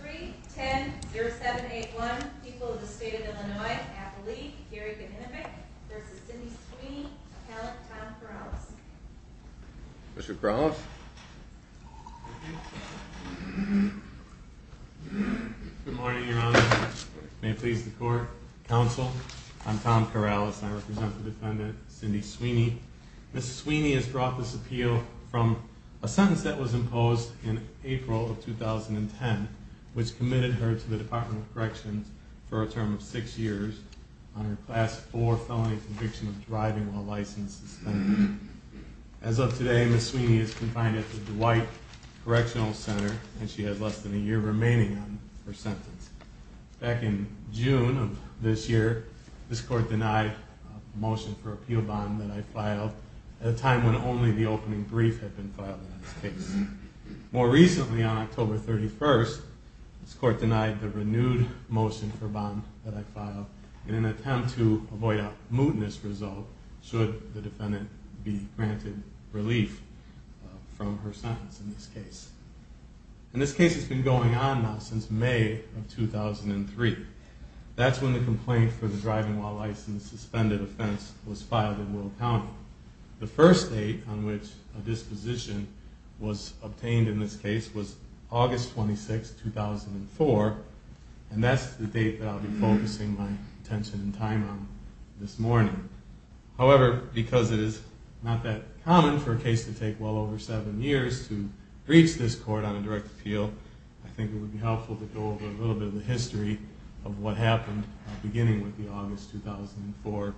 3, 10, 07, 8, 1, people of the state of Illinois, Appalachia, Carrigan, Hennepin v. Cindy Sweeney, appellant Tom Corrales Mr. Corrales Good morning your honor, may it please the court, counsel, I'm Tom Corrales and I represent the defendant Cindy Sweeney Ms. Sweeney has brought this appeal from a sentence that was imposed in April of 2010 which committed her to the Department of Corrections for a term of 6 years on her class 4 felony conviction of driving while licensed suspended. As of today Ms. Sweeney is confined at the Dwight Correctional Center and she has less than a year remaining on her sentence. Back in June of this year this court denied a motion for bond that I filed at a time when only the opening brief had been filed in this case. More recently on October 31st this court denied the renewed motion for bond that I filed in an attempt to avoid a mootness result should the defendant be granted relief from her sentence in this case. And this case has been going on now since May of 2003. That's when the complaint for the driving while licensed suspended offense was filed in Willow County. The first date on which a disposition was obtained in this case was August 26, 2004 and that's the date that I'll be focusing my attention and appeal. I think it would be helpful to go over a little bit of the history of what happened beginning with the August 2004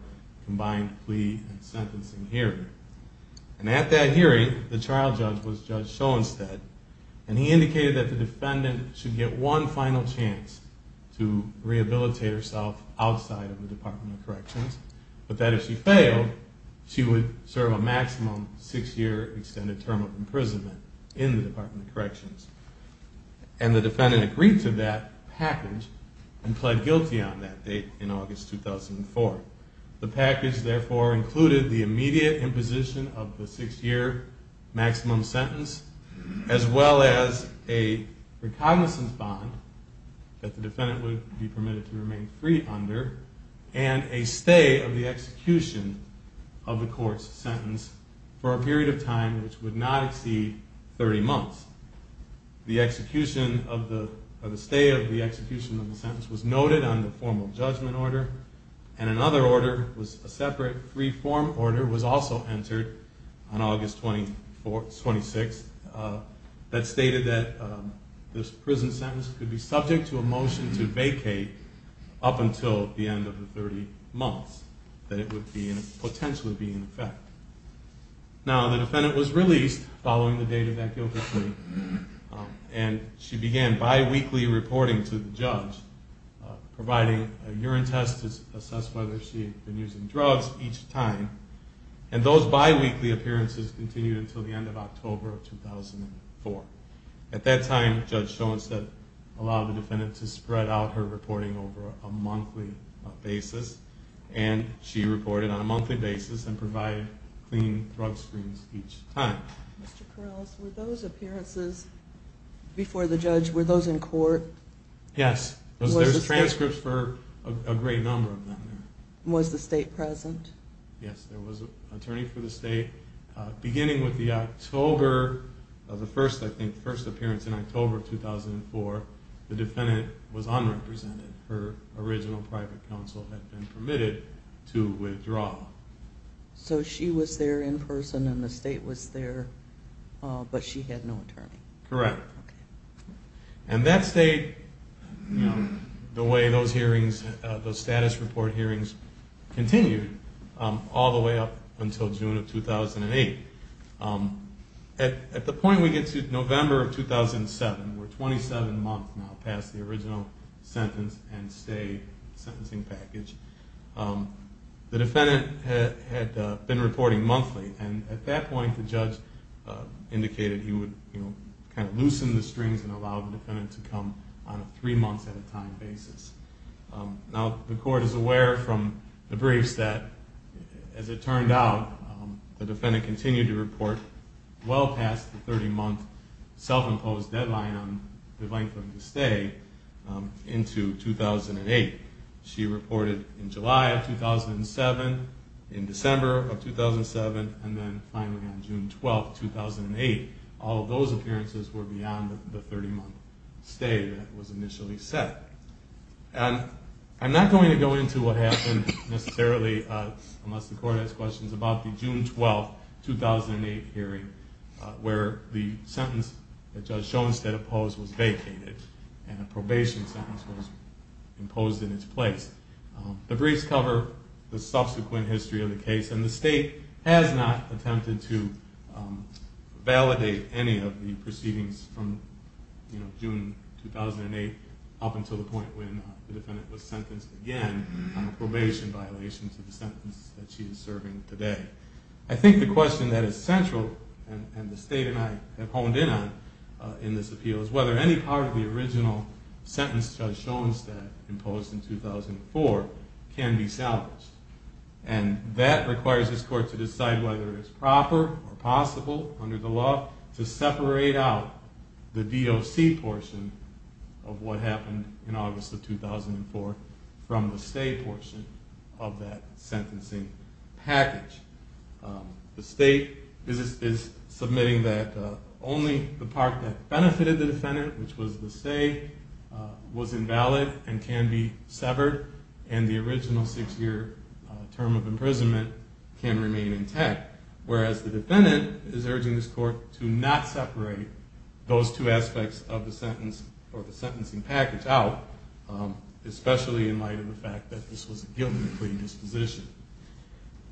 combined plea and sentencing hearing. And at that hearing the trial judge was Judge Shoenstedt and he indicated that the defendant should get one final chance to rehabilitate herself outside of the Department of Corrections but that if she failed she would serve a maximum 6 year extended term of imprisonment in the Department of Corrections. And the defendant agreed to that package and pled guilty on that date in August 2004. The package therefore included the immediate imposition of the 6 year maximum sentence as well as a recognizance bond that the defendant would be permitted to remain free under and a stay of the execution of the court's sentence for a period of time which would not exceed 30 months. The execution of the, or the stay of the execution of the sentence was noted on the formal judgment order and another order was a separate free form order was also entered on August 26th that stated that this prison sentence could be subject to a motion to vacate up until the end of the 30 months that it would potentially be in effect. Now the defendant was released following the date of that guilty plea and she began biweekly reporting to the judge providing a urine test to assess whether she had been using drugs each time. And those biweekly appearances continued until the end of October of 2004. At that time, Judge Showenstead allowed the defendant to spread out her reporting over a monthly basis and she reported on a monthly basis and provided clean drug Mr. Corrales, were those appearances before the judge, were those in court? Yes, there's transcripts for a great number of them. Was the state present? Yes, there was an attorney for the state. Beginning with the October of the first, I think, first appearance in October of 2004, the defendant was in prison and the state was there, but she had no attorney. Correct. And that stayed, the way those hearings, those status report hearings continued all the way up until June of 2008. At the point we get to November of 2007, we're 27 months now past the original sentence and stay sentencing package. The defendant had been reporting monthly and at that point the judge indicated he would kind of loosen the strings and allow the defendant to come on a three month at a time basis. Now the court is aware from the briefs that, as it turned out, the defendant continued to report well in July of 2007, in December of 2007, and then finally on June 12, 2008, all of those appearances were beyond the 30 month stay that was initially set. And I'm not going to go into what happened necessarily unless the court has questions about the June 12, 2008 hearing where the sentence that Judge The briefs cover the subsequent history of the case and the state has not attempted to validate any of the proceedings from June 2008 up until the point when the defendant was sentenced again on a probation violation to the sentence that she is serving today. I think the question that is central and the can be salvaged. And that requires this court to decide whether it is proper or possible under the law to separate out the DOC portion of what happened in August of 2004 from the stay portion of that sentencing package. The state is submitting that only the part that benefited the defendant, which was the stay, was invalid and can be severed and the original six year term of imprisonment can remain intact, whereas the defendant is urging this court to not separate those two aspects of the sentence or the sentencing package out, especially in light of the fact that this was a guilty plea disposition.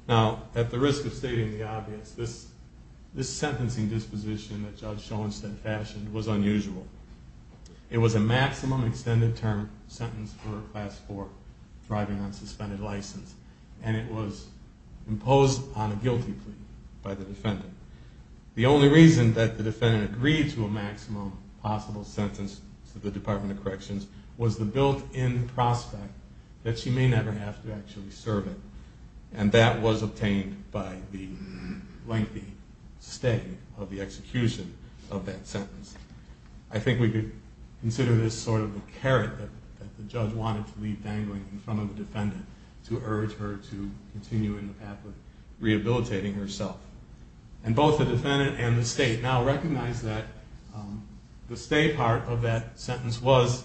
Now, at the risk of stating the obvious, this sentencing disposition that Judge Schoenstedt fashioned was unusual. It was a maximum extended term sentence for class 4 thriving on suspended license and it was imposed on a guilty plea by the defendant. The only reason that the defendant agreed to a maximum possible sentence to the Department of Corrections was the built in prospect that she may never have to actually serve it. And that was obtained by the lengthy stay of the execution of that sentence. I think we could consider this sort of a carrot that the judge wanted to leave dangling in front of the defendant to urge her to continue in the path of rehabilitating herself. And both the defendant and the state now recognize that the stay part of that sentence was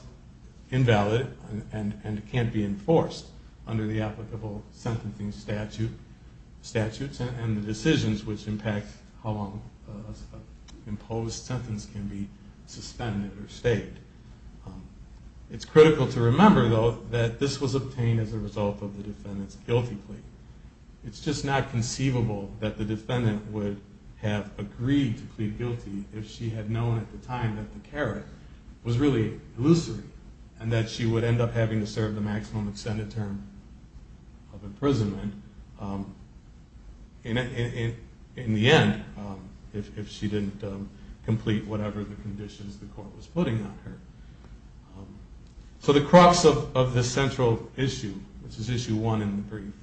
invalid and can't be enforced under the applicable sentencing statutes and the decisions which impact how long an imposed sentence can be suspended or the result of the defendant's guilty plea. It's just not conceivable that the defendant would have agreed to plead guilty if she had known at the time that the carrot was really illusory and that she would end up having to serve the maximum extended term of imprisonment in the end if she didn't complete whatever the conditions the court was putting on her. So the crux of this central issue, which is issue one in the brief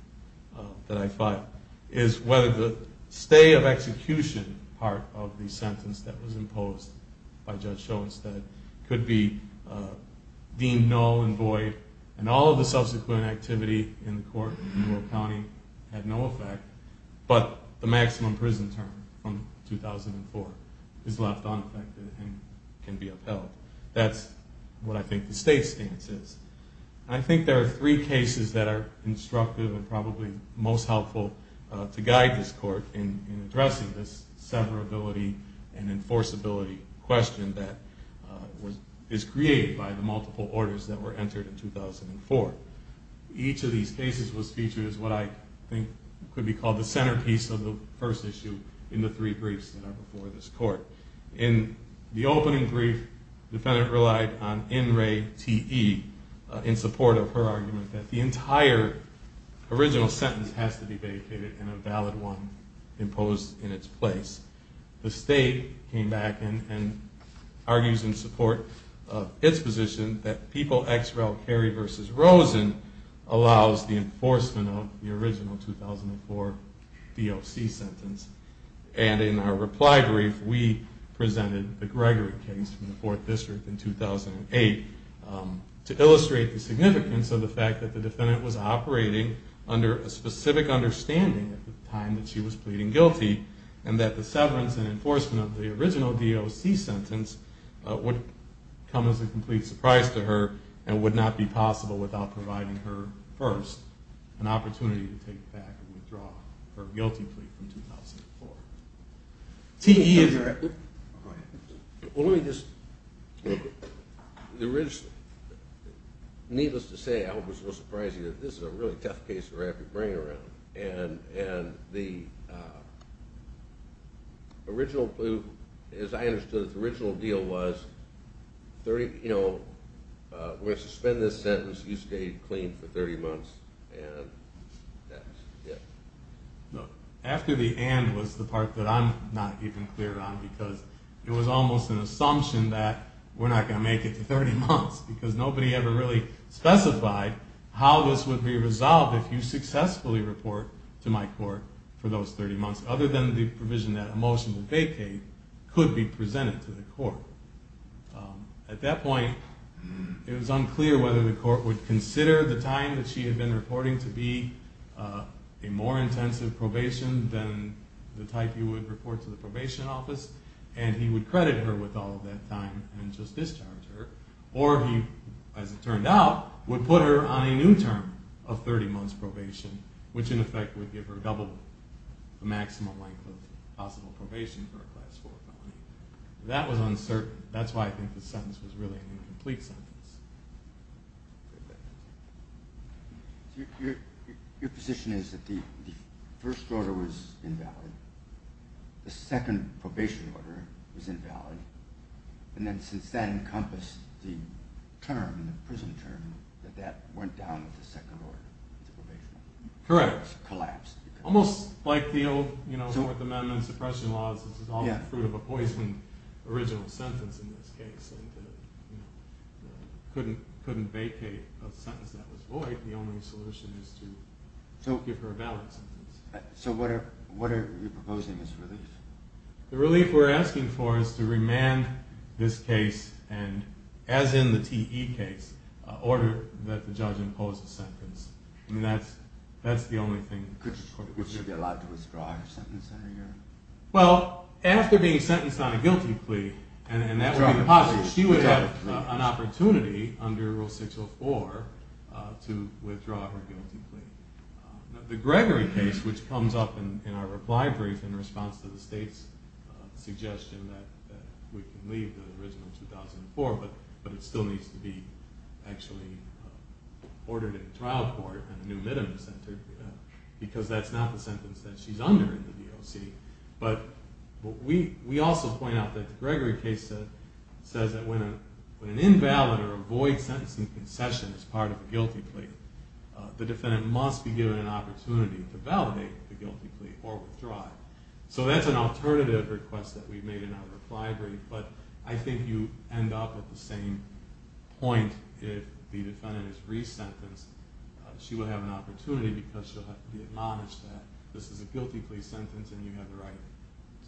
that I fought, is whether the stay of execution part of the sentence that was imposed by Judge Schoenstedt could be deemed null and void and all of the subsequent activity in the defendant can be upheld. That's what I think the state's stance is. I think there are three cases that are instructive and probably most helpful to guide this court in addressing this severability and enforceability question that is created by the multiple orders that were entered in 2004. Each of these cases was featured I think could be called the centerpiece of the first issue in the three briefs that are before this court. In the opening brief, the defendant relied on in re te in support of her argument that the entire original sentence has to be vacated and a valid one imposed in its place. The state came back and argues in support of its position that People v. Rosen allows the enforcement of the original 2004 DOC sentence. And in our reply brief we presented the Gregory case from the 4th district in 2008 to illustrate the significance of the fact that the defendant was operating under a specific understanding at the time that she was pleading guilty and that the severance and enforcement of the original DOC sentence would come as a complete surprise to her and would not be possible without providing her first an opportunity to take back and withdraw her guilty plea from 2004. Well let me just, needless to say I hope it's not surprising that this is a really tough case to wrap your brain around. And the original, as I understood it, the original deal was 30, you know, we're going to suspend this sentence, you stay clean for 30 months, and that's it. After the and was the part that I'm not even clear on because it was almost an assumption that we're not going to make it to 30 months because nobody ever really specified how this would be resolved if you successfully report to my court for those 30 months other than the provision that a motion to vacate could be presented to the court. At that point it was unclear whether the court would consider the time that she had been reporting to be a more intensive probation than the type you would report to the probation office and he would credit her with all of that time and just discharge her or he, as it turned out, would put her on a new term of 30 months probation which in effect would give her double the maximum length of possible probation for a class 4 felony. That was uncertain. That's why I think the sentence was really an incomplete sentence. Your position is that the first order was invalid, the second probation order was invalid, and then since that encompassed the term, the prison term, that that went down with the second order, the probation order. Correct. It collapsed. Almost like the old, you know, Fourth Amendment suppression laws, this is all the fruit of a poisoned original sentence in this case. Couldn't vacate a sentence that was void. The only solution is to give her a valid sentence. So what are you proposing as relief? The relief we're asking for is to remand this case and, as in the TE case, order that the judge impose a sentence. That's the only thing. Would she be allowed to withdraw her sentence? Well, after being sentenced on a guilty plea, and that would be the positive, she would have an opportunity under Rule 604 to withdraw her guilty plea. The Gregory case, which comes up in our reply brief in response to the state's suggestion that we can leave the original 2004, but it still needs to be actually ordered in trial court and the new minimum sentence, because that's not the sentence that she's under in the DOC. But we also point out that the Gregory case says that when an invalid or a void sentence in concession is part of a guilty plea, the defendant must be given an opportunity to validate the guilty plea or withdraw it. So that's an alternative request that we've made in our reply brief, but I think you end up at the same point if the defendant is resentenced. She would have an opportunity because she'll have to be admonished that this is a guilty plea sentence and you have the right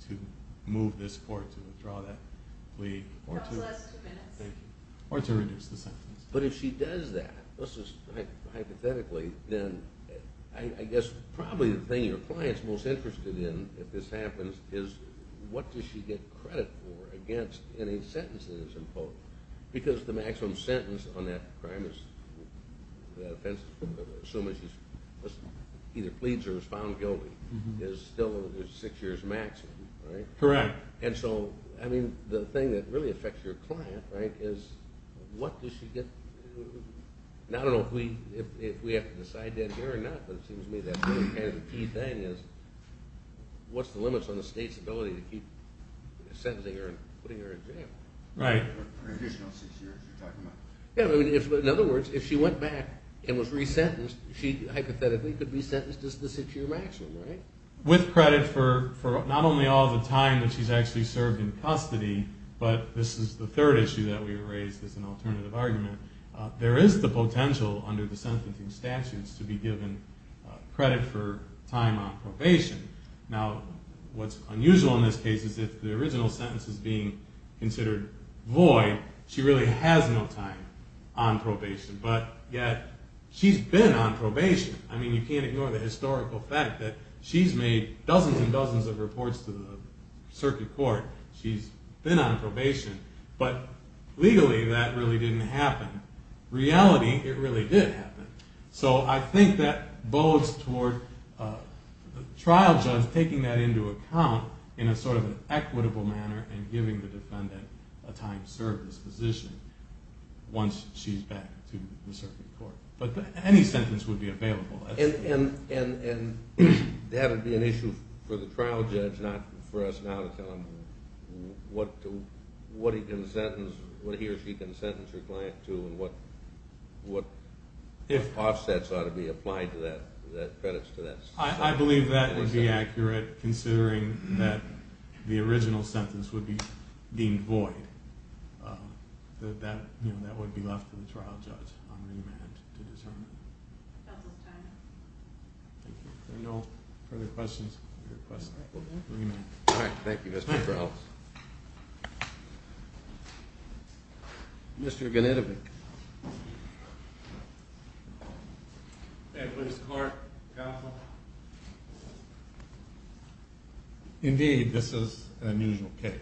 to move this court to withdraw that plea. Or to reduce the sentence. But if she does that, hypothetically, then I guess probably the thing your client's most interested in if this happens is what does she get credit for against any sentences? Because the maximum sentence on that offense, assuming she either pleads or is found guilty, is still six years maximum, right? Correct. And so, I mean, the thing that really affects your client, right, is what does she get – I don't know if we have to decide that here or not, but it seems to me that's kind of the key thing is what's the limits on the state's ability to keep sentencing her and putting her in jail? Right. In other words, if she went back and was resentenced, she hypothetically could be sentenced as the six-year maximum, right? With credit for not only all the time that she's actually served in custody, but this is the third issue that we raised as an alternative argument, there is the potential under the sentencing statutes to be given credit for time on probation. Now, what's unusual in this case is if the original sentence is being considered void, she really has no time on probation, but yet she's been on probation. I mean, you can't ignore the historical fact that she's made dozens and dozens of reports to the circuit court. She's been on probation, but legally that really didn't happen. Reality, it really did happen. So I think that bodes toward the trial judge taking that into account in a sort of equitable manner and giving the defendant a time to serve this position once she's back to the circuit court. But any sentence would be available. And that would be an issue for the trial judge, not for us now to tell him what he can sentence, what he or she can sentence her client to, and what if offsets ought to be applied to that, credits to that. I believe that would be accurate, considering that the original sentence would be deemed void. That would be left to the trial judge on remand to determine. That's all the time we have. Thank you. If there are no further questions, we request a remand. All right. Thank you, Mr. Strauss. Mr. Ganitovic. Thank you, Mr. Clark. Indeed, this is an unusual case.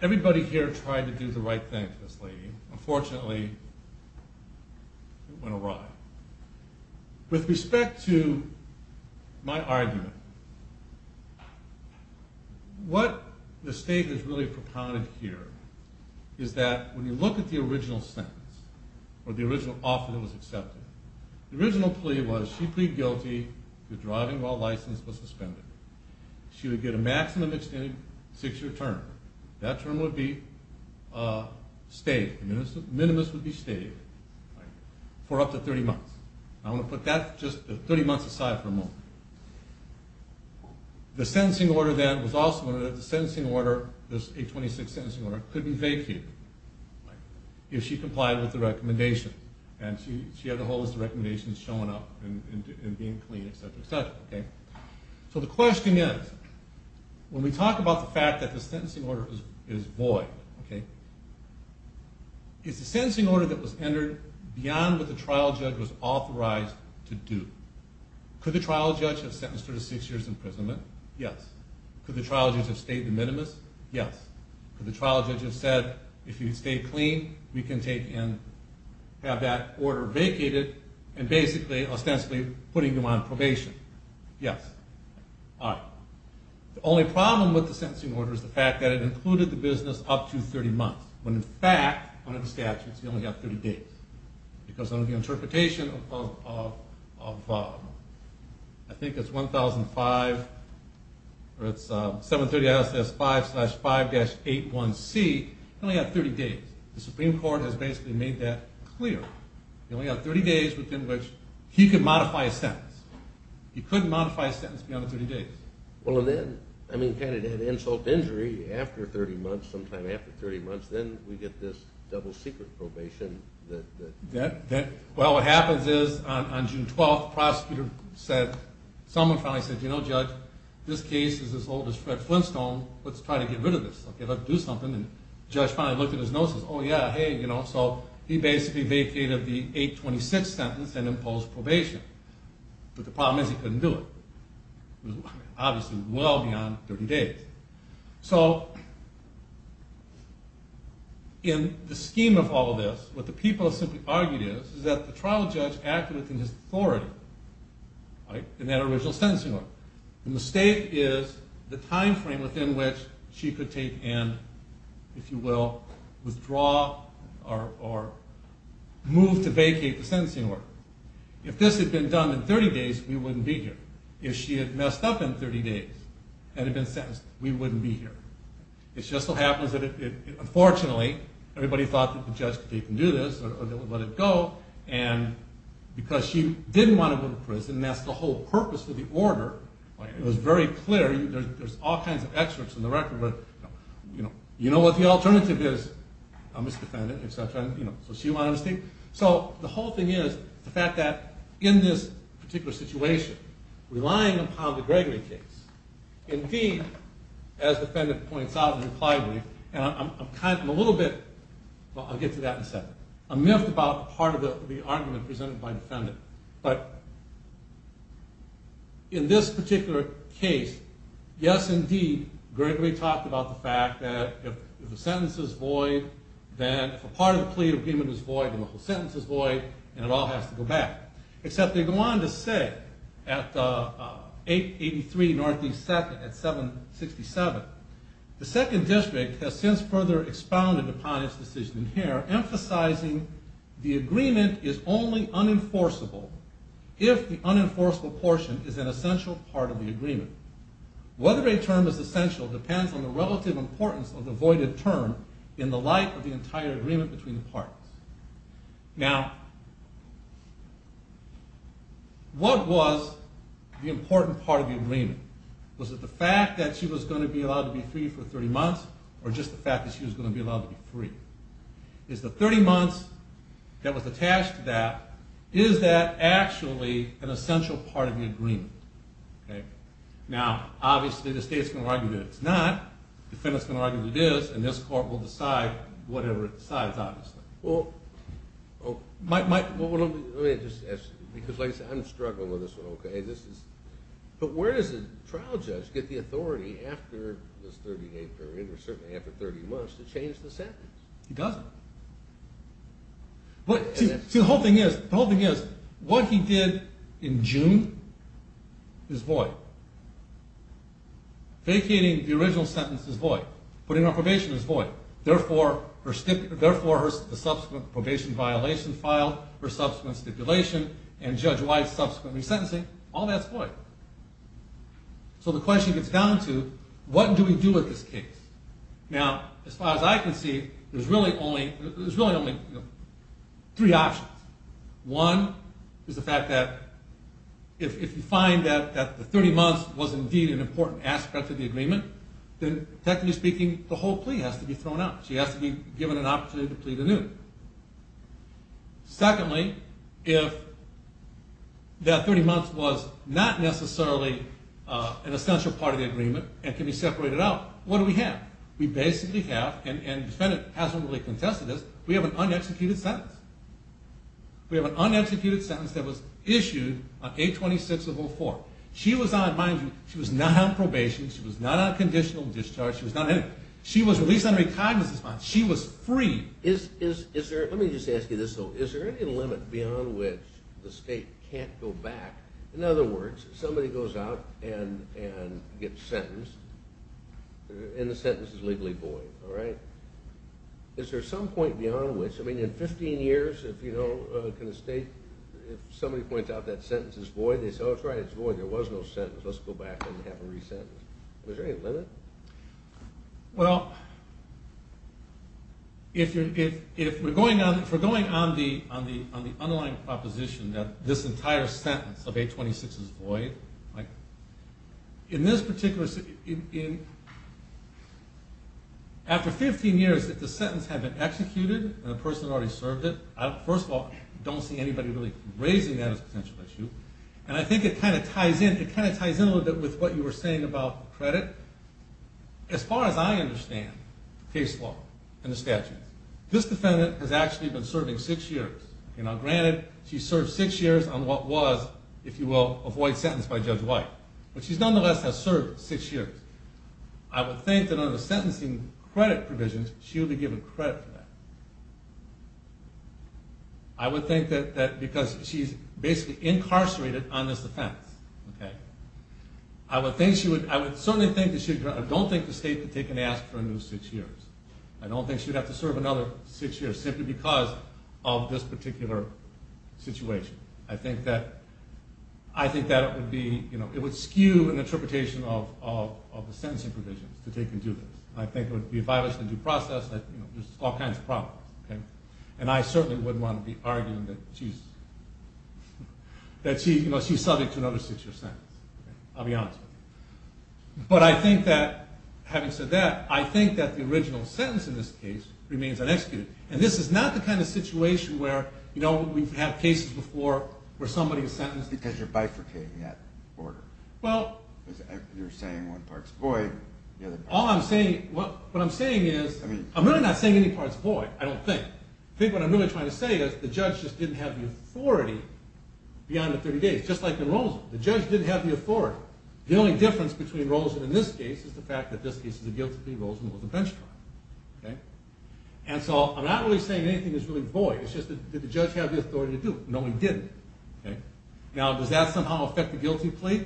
Everybody here tried to do the right thing to this lady. Unfortunately, it went awry. With respect to my argument, what the state has really propounded here is that when you look at the original sentence or the original offer that was accepted, the original plea was she plead guilty to driving while license was suspended. She would get a maximum extended six-year term. That term would be stayed. Minimus would be stayed for up to 30 months. I want to put that, just the 30 months aside for a moment. The sentencing order then was also one of the sentencing order, this 826 sentencing order, couldn't be vacated if she complied with the recommendation. And she had the whole list of recommendations showing up and being clean, et cetera, et cetera. So the question is, when we talk about the fact that the sentencing order is void, is the sentencing order that was entered beyond what the trial judge was authorized to do? Could the trial judge have sentenced her to six years imprisonment? Yes. Could the trial judge have stayed the minimus? Yes. Could the trial judge have said, if you stay clean, we can take in, have that order vacated, and basically ostensibly putting you on probation? Yes. The only problem with the sentencing order is the fact that it included the business up to 30 months, when in fact, under the statutes, you only have 30 days. Because under the interpretation of, I think it's 1005, or it's 730 S.S. 5-5-81C, you only have 30 days. The Supreme Court has basically made that clear. You only have 30 days within which he could modify his sentence. He couldn't modify his sentence beyond the 30 days. Well, and then, I mean, kind of that insult to injury, after 30 months, sometime after 30 months, then we get this double-secret probation that... Well, what happens is, on June 12th, the prosecutor said, someone finally said, you know, Judge, this case is as old as Fred Flintstone, let's try to get rid of this. Okay, let's do something. And the judge finally looked at his notes and says, oh yeah, hey, you know, so he basically vacated the 826 sentence and imposed probation. But the problem is, he couldn't do it. It was obviously well beyond 30 days. So, in the scheme of all of this, what the people have simply argued is, is that the trial judge acted within his authority, right, in that original sentencing order. The mistake is the time frame within which she could take and, if you will, withdraw, or move to vacate the sentencing order. If this had been done in 30 days, we wouldn't be here. If she had messed up in 30 days, had it been sentenced, we wouldn't be here. It just so happens that, unfortunately, everybody thought that the judge could take and do this, or they would let it go, and because she didn't want to go to prison, that's the whole purpose of the order. It was very clear. There's all kinds of excerpts in the record, but, you know, you know what the alternative is, a misdefendant, et cetera, you know, so she wanted to stay. So, the whole thing is the fact that, in this particular situation, relying upon the Gregory case, indeed, as the defendant points out, and impliedly, and I'm kind of, I'm a little bit, well, I'll get to that in a second, I'm miffed about part of the argument presented by the defendant, but in this particular case, yes, indeed, Gregory talked about the fact that if the sentence is void, then if a part of the plea agreement is void, then the whole sentence is void, and it all has to go back. Except they go on to say, at 883 Northeast 2nd, at 767, the 2nd District has since further expounded upon its decision in here, emphasizing the agreement is only unenforceable if the unenforceable portion is an essential part of the agreement. Whether a term is essential depends on the relative importance of the voided term in the light of the entire agreement between the parties. Now, what was the important part of the agreement? Was it the fact that she was going to be allowed to be free for 30 months, or just the fact that she was going to be allowed to be free? Is the 30 months that was attached to that, is that actually an essential part of the agreement? Now, obviously the state's going to argue that it's not, the defendant's going to argue that it is, and this court will decide whatever it decides, obviously. Well, let me just ask you, because like I said, I'm struggling with this one, okay? But where does a trial judge get the authority after this 30-day period, or certainly after 30 months, to change the sentence? He doesn't. See, the whole thing is, what he did in June is void. Vacating the original sentence is void. Putting her on probation is void. Therefore, the subsequent probation violation file, her subsequent stipulation, and Judge White's subsequent resentencing, all that's void. So the question gets down to, what do we do with this case? Now, as far as I can see, there's really only three options. One is the fact that if you find that the 30 months was indeed an important aspect of the agreement, then technically speaking, the whole plea has to be thrown out. She has to be given an opportunity to plead anew. Secondly, if that 30 months was not necessarily an essential part of the agreement and can be separated out, what do we have? We basically have, and the defendant hasn't really contested this, we have an unexecuted sentence. We have an unexecuted sentence that was issued on 8-26-04. Mind you, she was not on probation, she was not on conditional discharge, she was not in it. She was released on a recognizance bond. She was freed. Let me just ask you this, though. Is there any limit beyond which the state can't go back? In other words, somebody goes out and gets sentenced, and the sentence is legally void, all right? Is there some point beyond which? I mean, in 15 years, if somebody points out that sentence is void, they say, oh, that's right, it's void, there was no sentence, let's go back and have it resentenced. Is there any limit? Well, if we're going on the underlying proposition that this entire sentence of 8-26 is void, in this particular, after 15 years, if the sentence had been executed and the person had already served it, first of all, I don't see anybody really raising that as a potential issue. And I think it kind of ties in a little bit with what you were saying about credit. As far as I understand case law and the statutes, this defendant has actually been serving six years. Granted, she served six years on what was, if you will, a void sentence by Judge White. But she nonetheless has served six years. I would think that under the sentencing credit provisions, she would be given credit for that. I would think that because she's basically incarcerated on this offense. I would certainly think that she would, I don't think the state would take an ask for a new six years. I don't think she would have to serve another six years simply because of this particular situation. I think that it would skew an interpretation of the sentencing provisions to take into this. I think it would be a violation of due process. There's all kinds of problems. And I certainly wouldn't want to be arguing that she's subject to another six year sentence. I'll be honest with you. But I think that, having said that, I think that the original sentence in this case remains unexecuted. And this is not the kind of situation where, you know, we've had cases before where somebody is sentenced... Because you're bifurcating that order. Well... You're saying one part's void, the other... All I'm saying, what I'm saying is... I'm really not saying any part's void. I don't think. I think what I'm really trying to say is the judge just didn't have the authority beyond the 30 days. Just like in Rosen. The judge didn't have the authority. The only difference between Rosen in this case is the fact that this case is a guilty plea. Rosen was a bench trial. And so I'm not really saying anything is really void. It's just that did the judge have the authority to do it? No, he didn't. Now, does that somehow affect the guilty plea?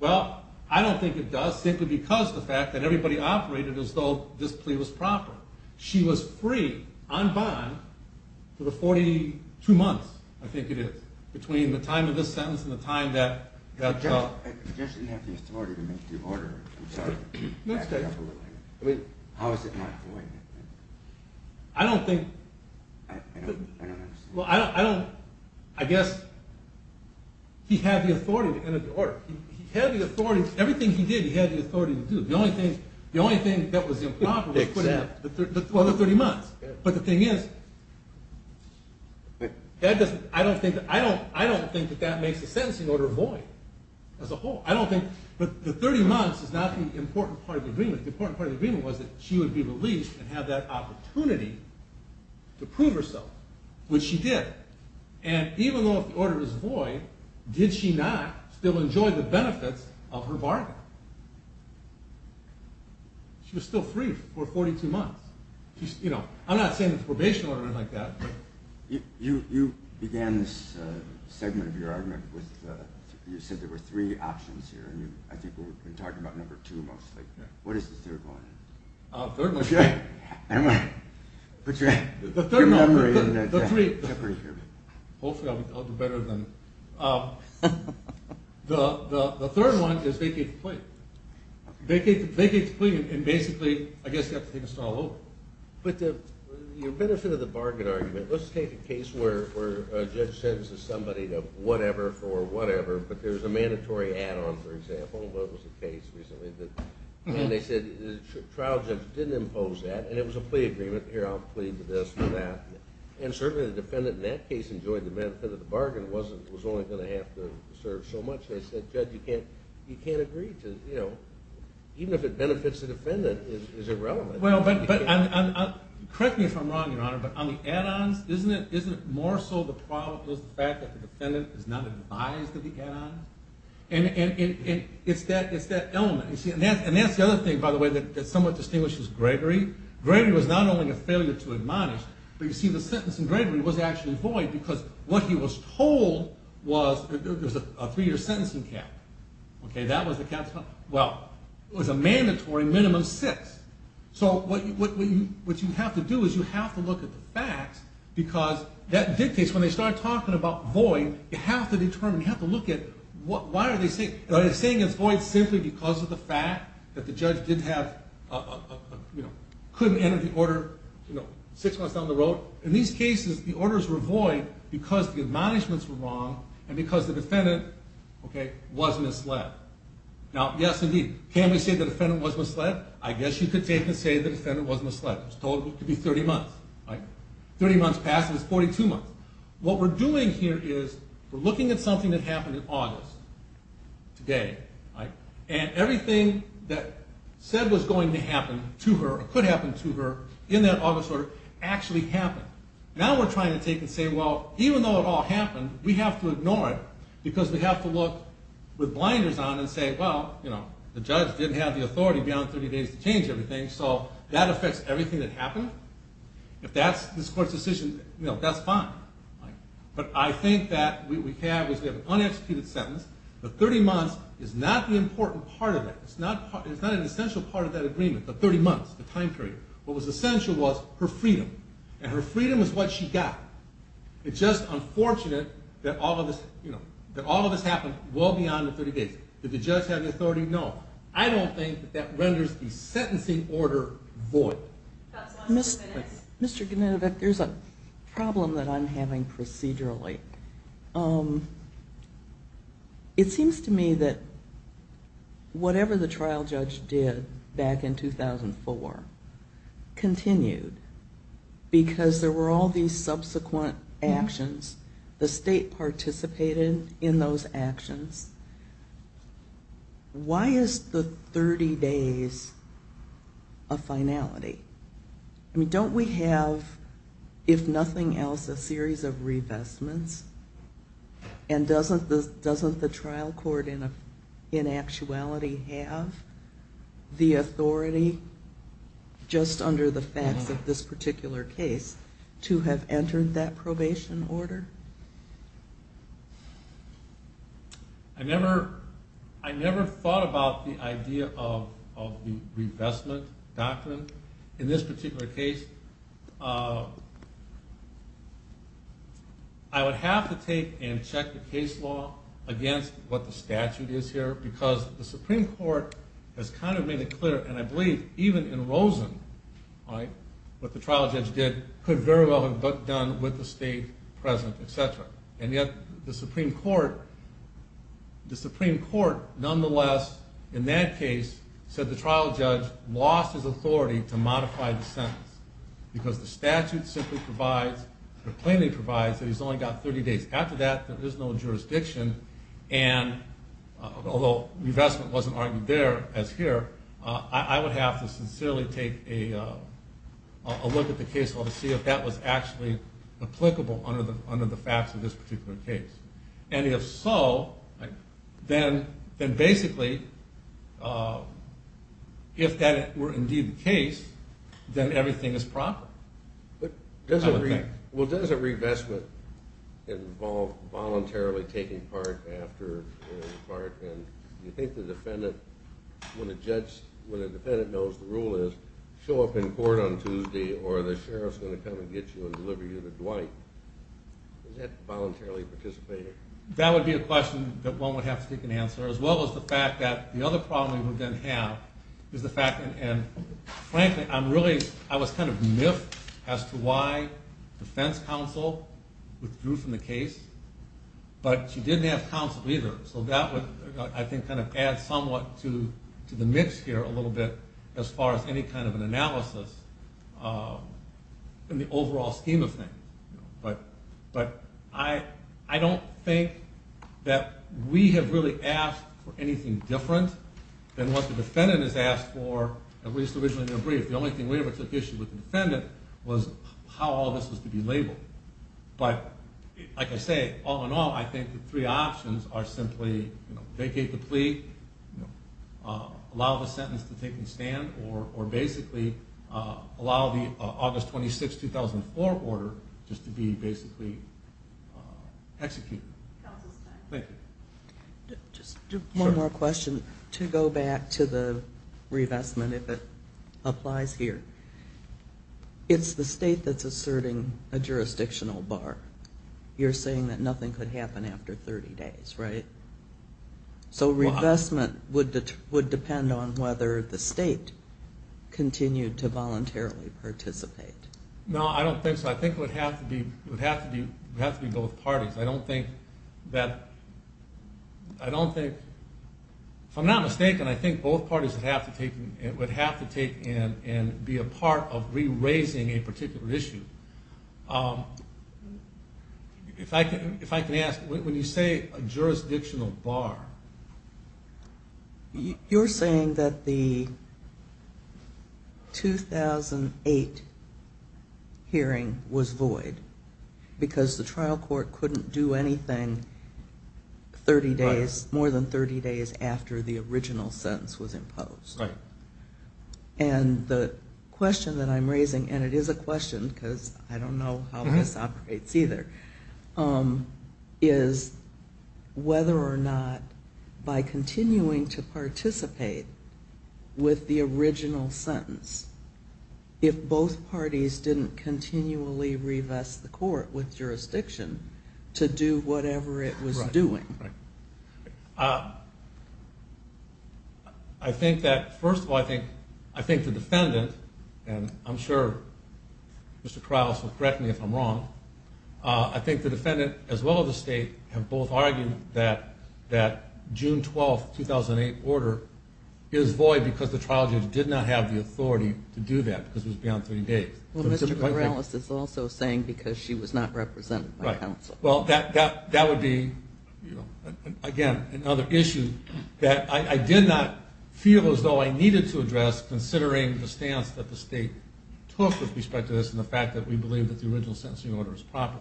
Well, I don't think it does, simply because of the fact that everybody operated as though this plea was proper. She was free, unbind, for the 42 months, I think it is. Between the time of this sentence and the time that... The judge didn't have the authority to make the order. I'm sorry. Next question. How is it not void? I don't think... I don't understand. I guess he had the authority to enter the order. He had the authority. Everything he did, he had the authority to do. The only thing that was improper was the 30 months. But the thing is, I don't think that that makes the sentencing order void as a whole. I don't think... The 30 months is not the important part of the agreement. The important part of the agreement was that she would be released and have that opportunity to prove herself. Which she did. And even though the order was void, did she not still enjoy the benefits of her bargain? She was still free for 42 months. I'm not saying it's a probation order or anything like that. You began this segment of your argument with... You said there were three options here, and I think we've been talking about number two mostly. What is the third one? The third one... The third one... Hopefully I'll do better than... The third one is vacate the plea. Vacate the plea, and basically, I guess you have to take us all over. But the benefit of the bargain argument... Let's take a case where a judge sentences somebody to whatever for whatever, but there's a mandatory add-on, for example. That was the case recently. And they said the trial judge didn't impose that, and it was a plea agreement. Here, I'll plead to this or that. And certainly the defendant in that case enjoyed the benefit of the bargain. It was only going to have to serve so much. They said, Judge, you can't agree to... Even if it benefits the defendant, it's irrelevant. Correct me if I'm wrong, Your Honor, but on the add-ons, isn't it more so the fact that the defendant is not advised of the add-ons? And it's that element. And that's the other thing, by the way, that somewhat distinguishes Gregory. Gregory was not only a failure to admonish, but you see, the sentence in Gregory was actually void, because what he was told was there was a three-year sentencing cap. Okay, that was the cap... Well, it was a mandatory minimum six. So what you have to do is you have to look at the facts, because that dictates... When you're talking about void, you have to determine, you have to look at why are they saying... Are they saying it's void simply because of the fact that the judge couldn't enter the order six months down the road? In these cases, the orders were void because the admonishments were wrong and because the defendant was misled. Now, yes, indeed. Can we say the defendant was misled? I guess you could say the defendant was misled. It was told it could be 30 months. 30 months passed, and it's 42 months. What we're doing here is we're looking at something that happened in August today, and everything that said was going to happen to her or could happen to her in that August order actually happened. Now we're trying to take and say, well, even though it all happened, we have to ignore it, because we have to look with blinders on and say, well, the judge didn't have the authority beyond 30 days to change everything, so that affects everything that happened. If that's this court's decision, that's fine. But I think that what we have is we have an unexecuted sentence. The 30 months is not the important part of it. It's not an essential part of that agreement, the 30 months, the time period. What was essential was her freedom, and her freedom is what she got. It's just unfortunate that all of this happened well beyond the 30 days. Did the judge have the authority? No. I don't think that that renders the sentencing order void. Mr. Genetovic, there's a problem that I'm having procedurally. It seems to me that whatever the trial judge did back in 2004 continued, because there were all these subsequent actions. The state participated in those actions. Why is the 30 days a finality? Don't we have, if nothing else, a series of revestments? And doesn't the trial court in actuality have the authority, just under the facts of this particular case, to have entered that probation order? I never thought about the idea of the revestment doctrine in this particular case. I would have to take and check the case law against what the statute is here, because the Supreme Court has kind of made it clear, and I believe even in Rosen, what the trial judge did could very well have been done with the state present, etc. And yet the Supreme Court, nonetheless, in that case, said the trial judge lost his authority to modify the sentence, because the statute plainly provides that he's only got 30 days. After that, there is no jurisdiction, and although revestment wasn't argued there as here, I would have to sincerely take a look at the case law to see if that was actually applicable under the facts of this particular case. And if so, then basically, if that were indeed the case, then everything is proper. Well, does a revestment involve voluntarily taking part after taking part? And do you think the defendant, when a defendant knows the rule is show up in court on Tuesday, or the sheriff's going to come and get you and deliver you to Dwight, does that voluntarily participate? That would be a question that one would have to take an answer, as well as the fact that the other problem we would then have is the fact that, and frankly, I'm really, I was kind of miffed as to why defense counsel withdrew from the case, but she didn't have counsel either, so that would, I think, kind of add somewhat to the mix here a little bit, as far as any kind of an analysis in the overall scheme of things. But I don't think that we have really asked for anything different than what the defendant has asked for, at least originally in their brief. The only thing we ever took issue with the defendant was how all this was to be labeled. But like I say, all in all, I think the three options are simply vacate the plea, allow the sentence to take and stand, or basically allow the August 26, 2004 order just to be basically executed. Counsel's time. Thank you. Just one more question. Sure. To go back to the revestment, if it applies here, it's the state that's asserting a jurisdictional bar. You're saying that nothing could happen after 30 days, right? So revestment would depend on whether the state continued to voluntarily participate. No, I don't think so. I think it would have to be both parties. I don't think that, I don't think, if I'm not mistaken, I think both parties would have to take and be a part of re-raising a particular issue. If I can ask, when you say a jurisdictional bar. You're saying that the 2008 hearing was void because the trial court couldn't do anything 30 days, more than 30 days after the original sentence was imposed. Right. And the question that I'm raising, and it is a question because I don't know how this operates either, is whether or not by continuing to participate with the original sentence, if both parties didn't continually revest the court with jurisdiction to do whatever it was doing. I think that, first of all, I think the defendant, and I'm sure Mr. Corrales will correct me if I'm wrong, I think the defendant as well as the state have both argued that June 12, 2008 order is void because the trial judge did not have the authority to do that because it was beyond 30 days. Well, Mr. Corrales is also saying because she was not represented by counsel. Well, that would be, again, another issue that I did not feel as though I needed to address considering the stance that the state took with respect to this and the fact that we believe that the original sentencing order is proper.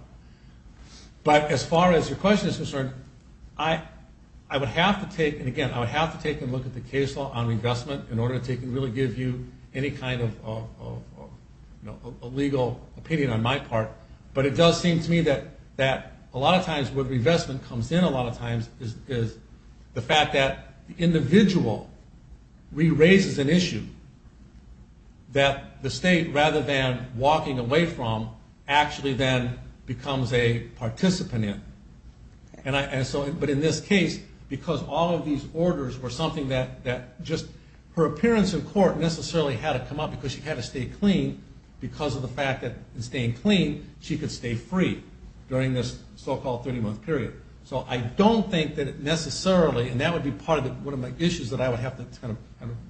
But as far as your question is concerned, I would have to take, and again, I would have to take a look at the case law on revestment in order to really give you any kind of legal opinion on my part. But it does seem to me that a lot of times where revestment comes in a lot of times is the fact that the individual re-raises an issue that the state, rather than walking away from, actually then becomes a participant in. But in this case, because all of these orders were something that just, her appearance in court necessarily had to come up because she had to stay clean because of the fact that in staying clean, she could stay free during this so-called 30-month period. So I don't think that it necessarily, and that would be part of one of my issues that I would have to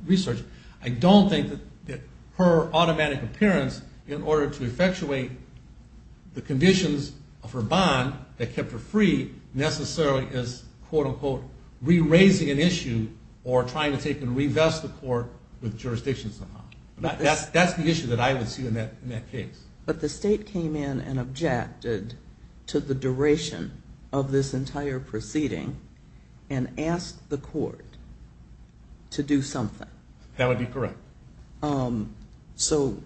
research, I don't think that her automatic appearance in order to effectuate the conditions of her bond that kept her free necessarily is quote-unquote re-raising an issue or trying to take and revest the court with jurisdiction somehow. That's the issue that I would see in that case. But the state came in and objected to the duration of this entire proceeding and asked the court to do something. That would be correct. So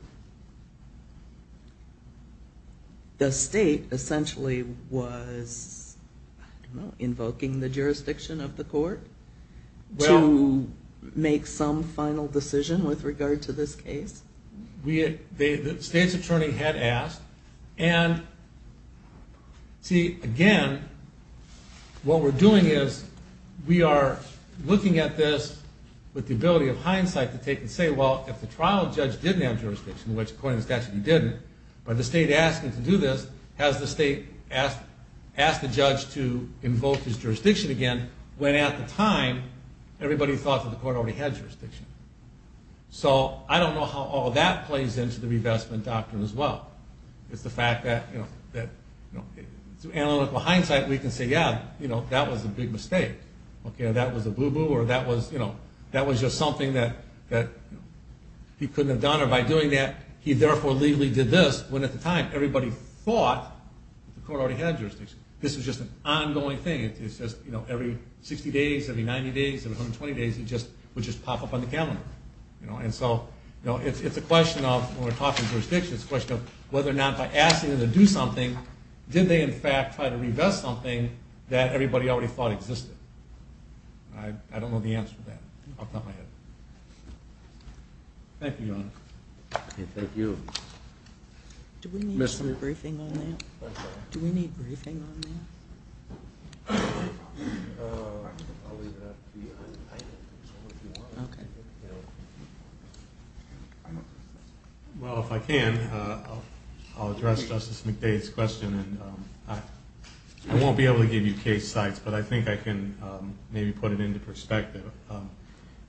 the state essentially was, I don't know, invoking the jurisdiction of the court to make some final decision with regard to this case? The state's attorney had asked, and see, again, what we're doing is we are looking at this with the ability of hindsight to take and say, well, if the trial judge didn't have jurisdiction, which according to the statute he didn't, but the state asked him to do this, has the state asked the judge to invoke his jurisdiction again when at the time everybody thought that the court already had jurisdiction? So I don't know how all that plays into the revestment doctrine as well. It's the fact that through analytical hindsight we can say, yeah, that was a big mistake. That was a boo-boo or that was just something that he couldn't have done, or by doing that he therefore legally did this when at the time everybody thought that the court already had jurisdiction. This is just an ongoing thing. It's just every 60 days, every 90 days, every 120 days it would just pop up on the calendar. And so it's a question of when we're talking jurisdiction, it's a question of whether or not by asking them to do something, did they in fact try to revest something that everybody already thought existed? I don't know the answer to that. I'll top my head. Thank you, Your Honor. Thank you. Do we need some briefing on that? Do we need briefing on that? I'll leave it up to you. Okay. Well, if I can, I'll address Justice McDade's question. And I won't be able to give you case sites, but I think I can maybe put it into perspective.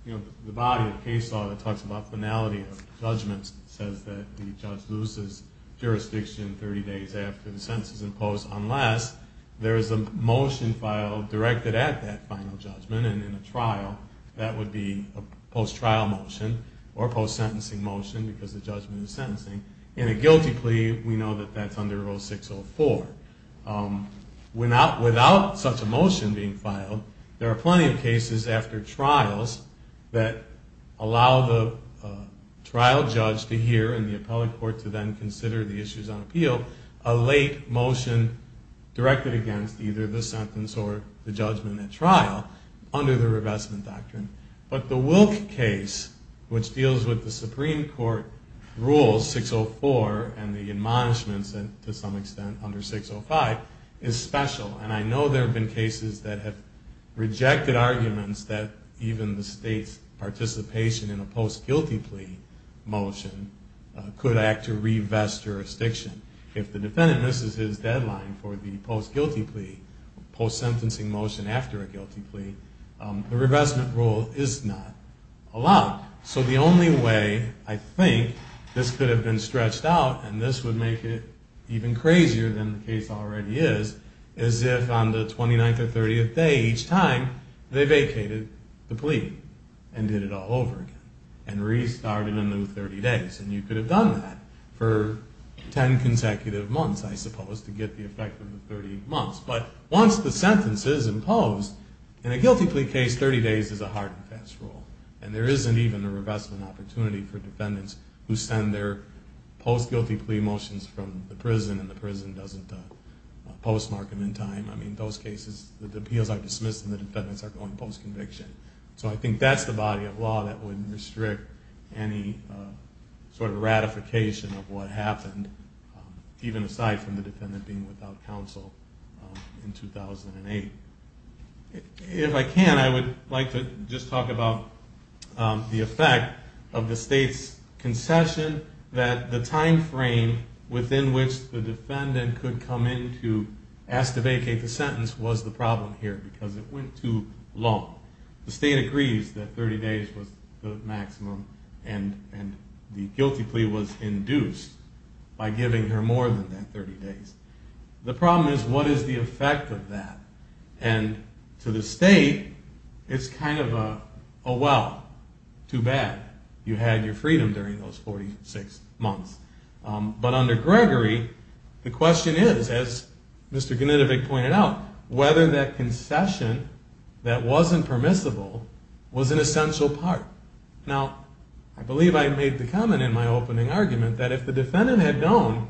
You know, the body of the case law that talks about finality of judgments says that the judge loses jurisdiction 30 days after the sentence is imposed unless there is a motion filed directed at that final judgment and in a trial. That would be a post-trial motion or a post-sentencing motion because the judgment is sentencing. In a guilty plea, we know that that's under 0604. Without such a motion being filed, there are plenty of cases after trials that allow the trial judge to hear and the appellate court to then consider the issues on appeal, a late motion directed against either the sentence or the judgment at trial under the revestment doctrine. But the Wilk case, which deals with the Supreme Court rules, 604, and the admonishments to some extent under 605, is special. And I know there have been cases that have rejected arguments that even the state's participation in a post-guilty plea motion could act to revest jurisdiction. If the defendant misses his deadline for the post-guilty plea, post-sentencing motion after a guilty plea, the revestment rule is not allowed. So the only way I think this could have been stretched out, and this would make it even crazier than the case already is, is if on the 29th or 30th day each time, they vacated the plea and did it all over again and restarted a new 30 days. And you could have done that for 10 consecutive months, I suppose, to get the effect of the 30 months. But once the sentence is imposed, in a guilty plea case, 30 days is a hard and fast rule. And there isn't even a revestment opportunity for defendants who send their post-guilty plea motions from the prison and the prison doesn't postmark them in time. I mean, those cases, the appeals are dismissed and the defendants are going post-conviction. So I think that's the body of law that would restrict any sort of ratification of what happened, even aside from the defendant being without counsel in 2008. If I can, I would like to just talk about the effect of the state's concession that the time frame within which the defendant could come in to ask to vacate the sentence was the problem here, because it went too long. The state agrees that 30 days was the maximum, and the guilty plea was induced by giving her more than that 30 days. The problem is, what is the effect of that? And to the state, it's kind of a, well, too bad. You had your freedom during those 46 months. But under Gregory, the question is, as Mr. Knitovic pointed out, whether that concession that wasn't permissible was an essential part. Now, I believe I made the comment in my opening argument that if the defendant had known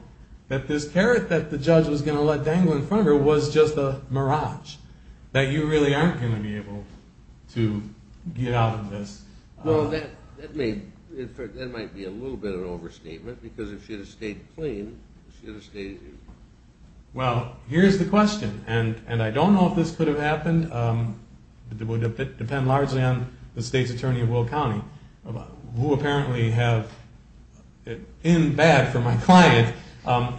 that this carrot that the judge was going to let dangle in front of her was just a mirage, that you really aren't going to be able to get out of this. Well, that may, in fact, that might be a little bit of an overstatement, because if she had stayed clean, she would have stayed in. Well, here's the question, and I don't know if this could have happened. It would depend largely on the state's attorney of Will County, who apparently have, in bad for my client,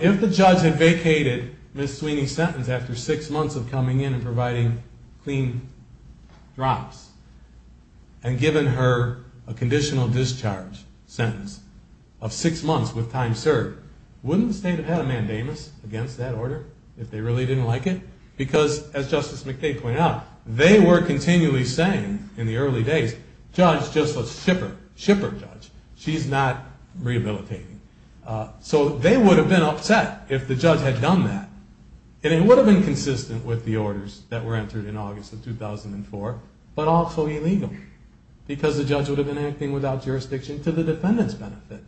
if the judge had vacated Ms. Sweeney's sentence after six months of coming in and providing clean drops and given her a conditional discharge sentence of six months with time served, wouldn't the state have had a mandamus against that order if they really didn't like it? Because, as Justice McKay pointed out, they were continually saying in the early days, judge, just let's ship her, ship her, judge. She's not rehabilitating. So they would have been upset if the judge had done that. And it would have been consistent with the orders that were entered in August of 2004, but also illegal, because the judge would have been acting without jurisdiction to the defendant's benefit.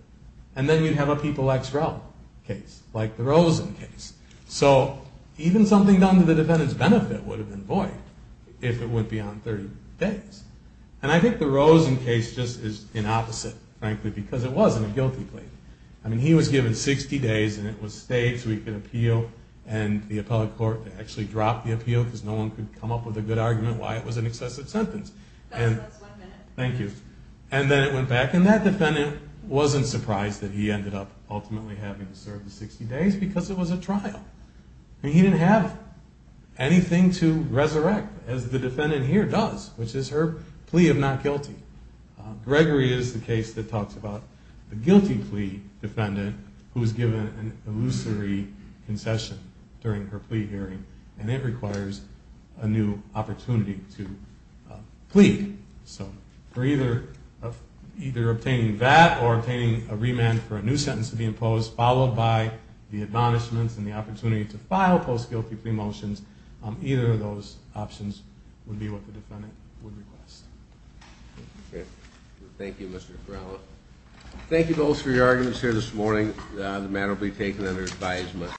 And then you'd have a People X Rel case, like the Rosen case. So even something done to the defendant's benefit would have been void if it wouldn't be on 30 days. And I think the Rosen case just is the opposite, frankly, because it wasn't a guilty plea. I mean, he was given 60 days, and it was stayed so he could appeal, and the appellate court actually dropped the appeal, because no one could come up with a good argument why it was an excessive sentence. That's one minute. Thank you. And then it went back, and that defendant wasn't surprised that he ended up ultimately having to serve the 60 days, because it was a trial. He didn't have anything to resurrect, as the defendant here does, which is her plea of not guilty. Gregory is the case that talks about the guilty plea defendant, who was given an illusory concession during her plea hearing, and it requires a new opportunity to plead. So for either obtaining that or obtaining a remand for a new sentence to be imposed, followed by the admonishments and the opportunity to file post-guilty plea motions, either of those options would be what the defendant would request. Okay. Thank you, Mr. Torello. Thank you both for your arguments here this morning. The matter will be taken under advisement.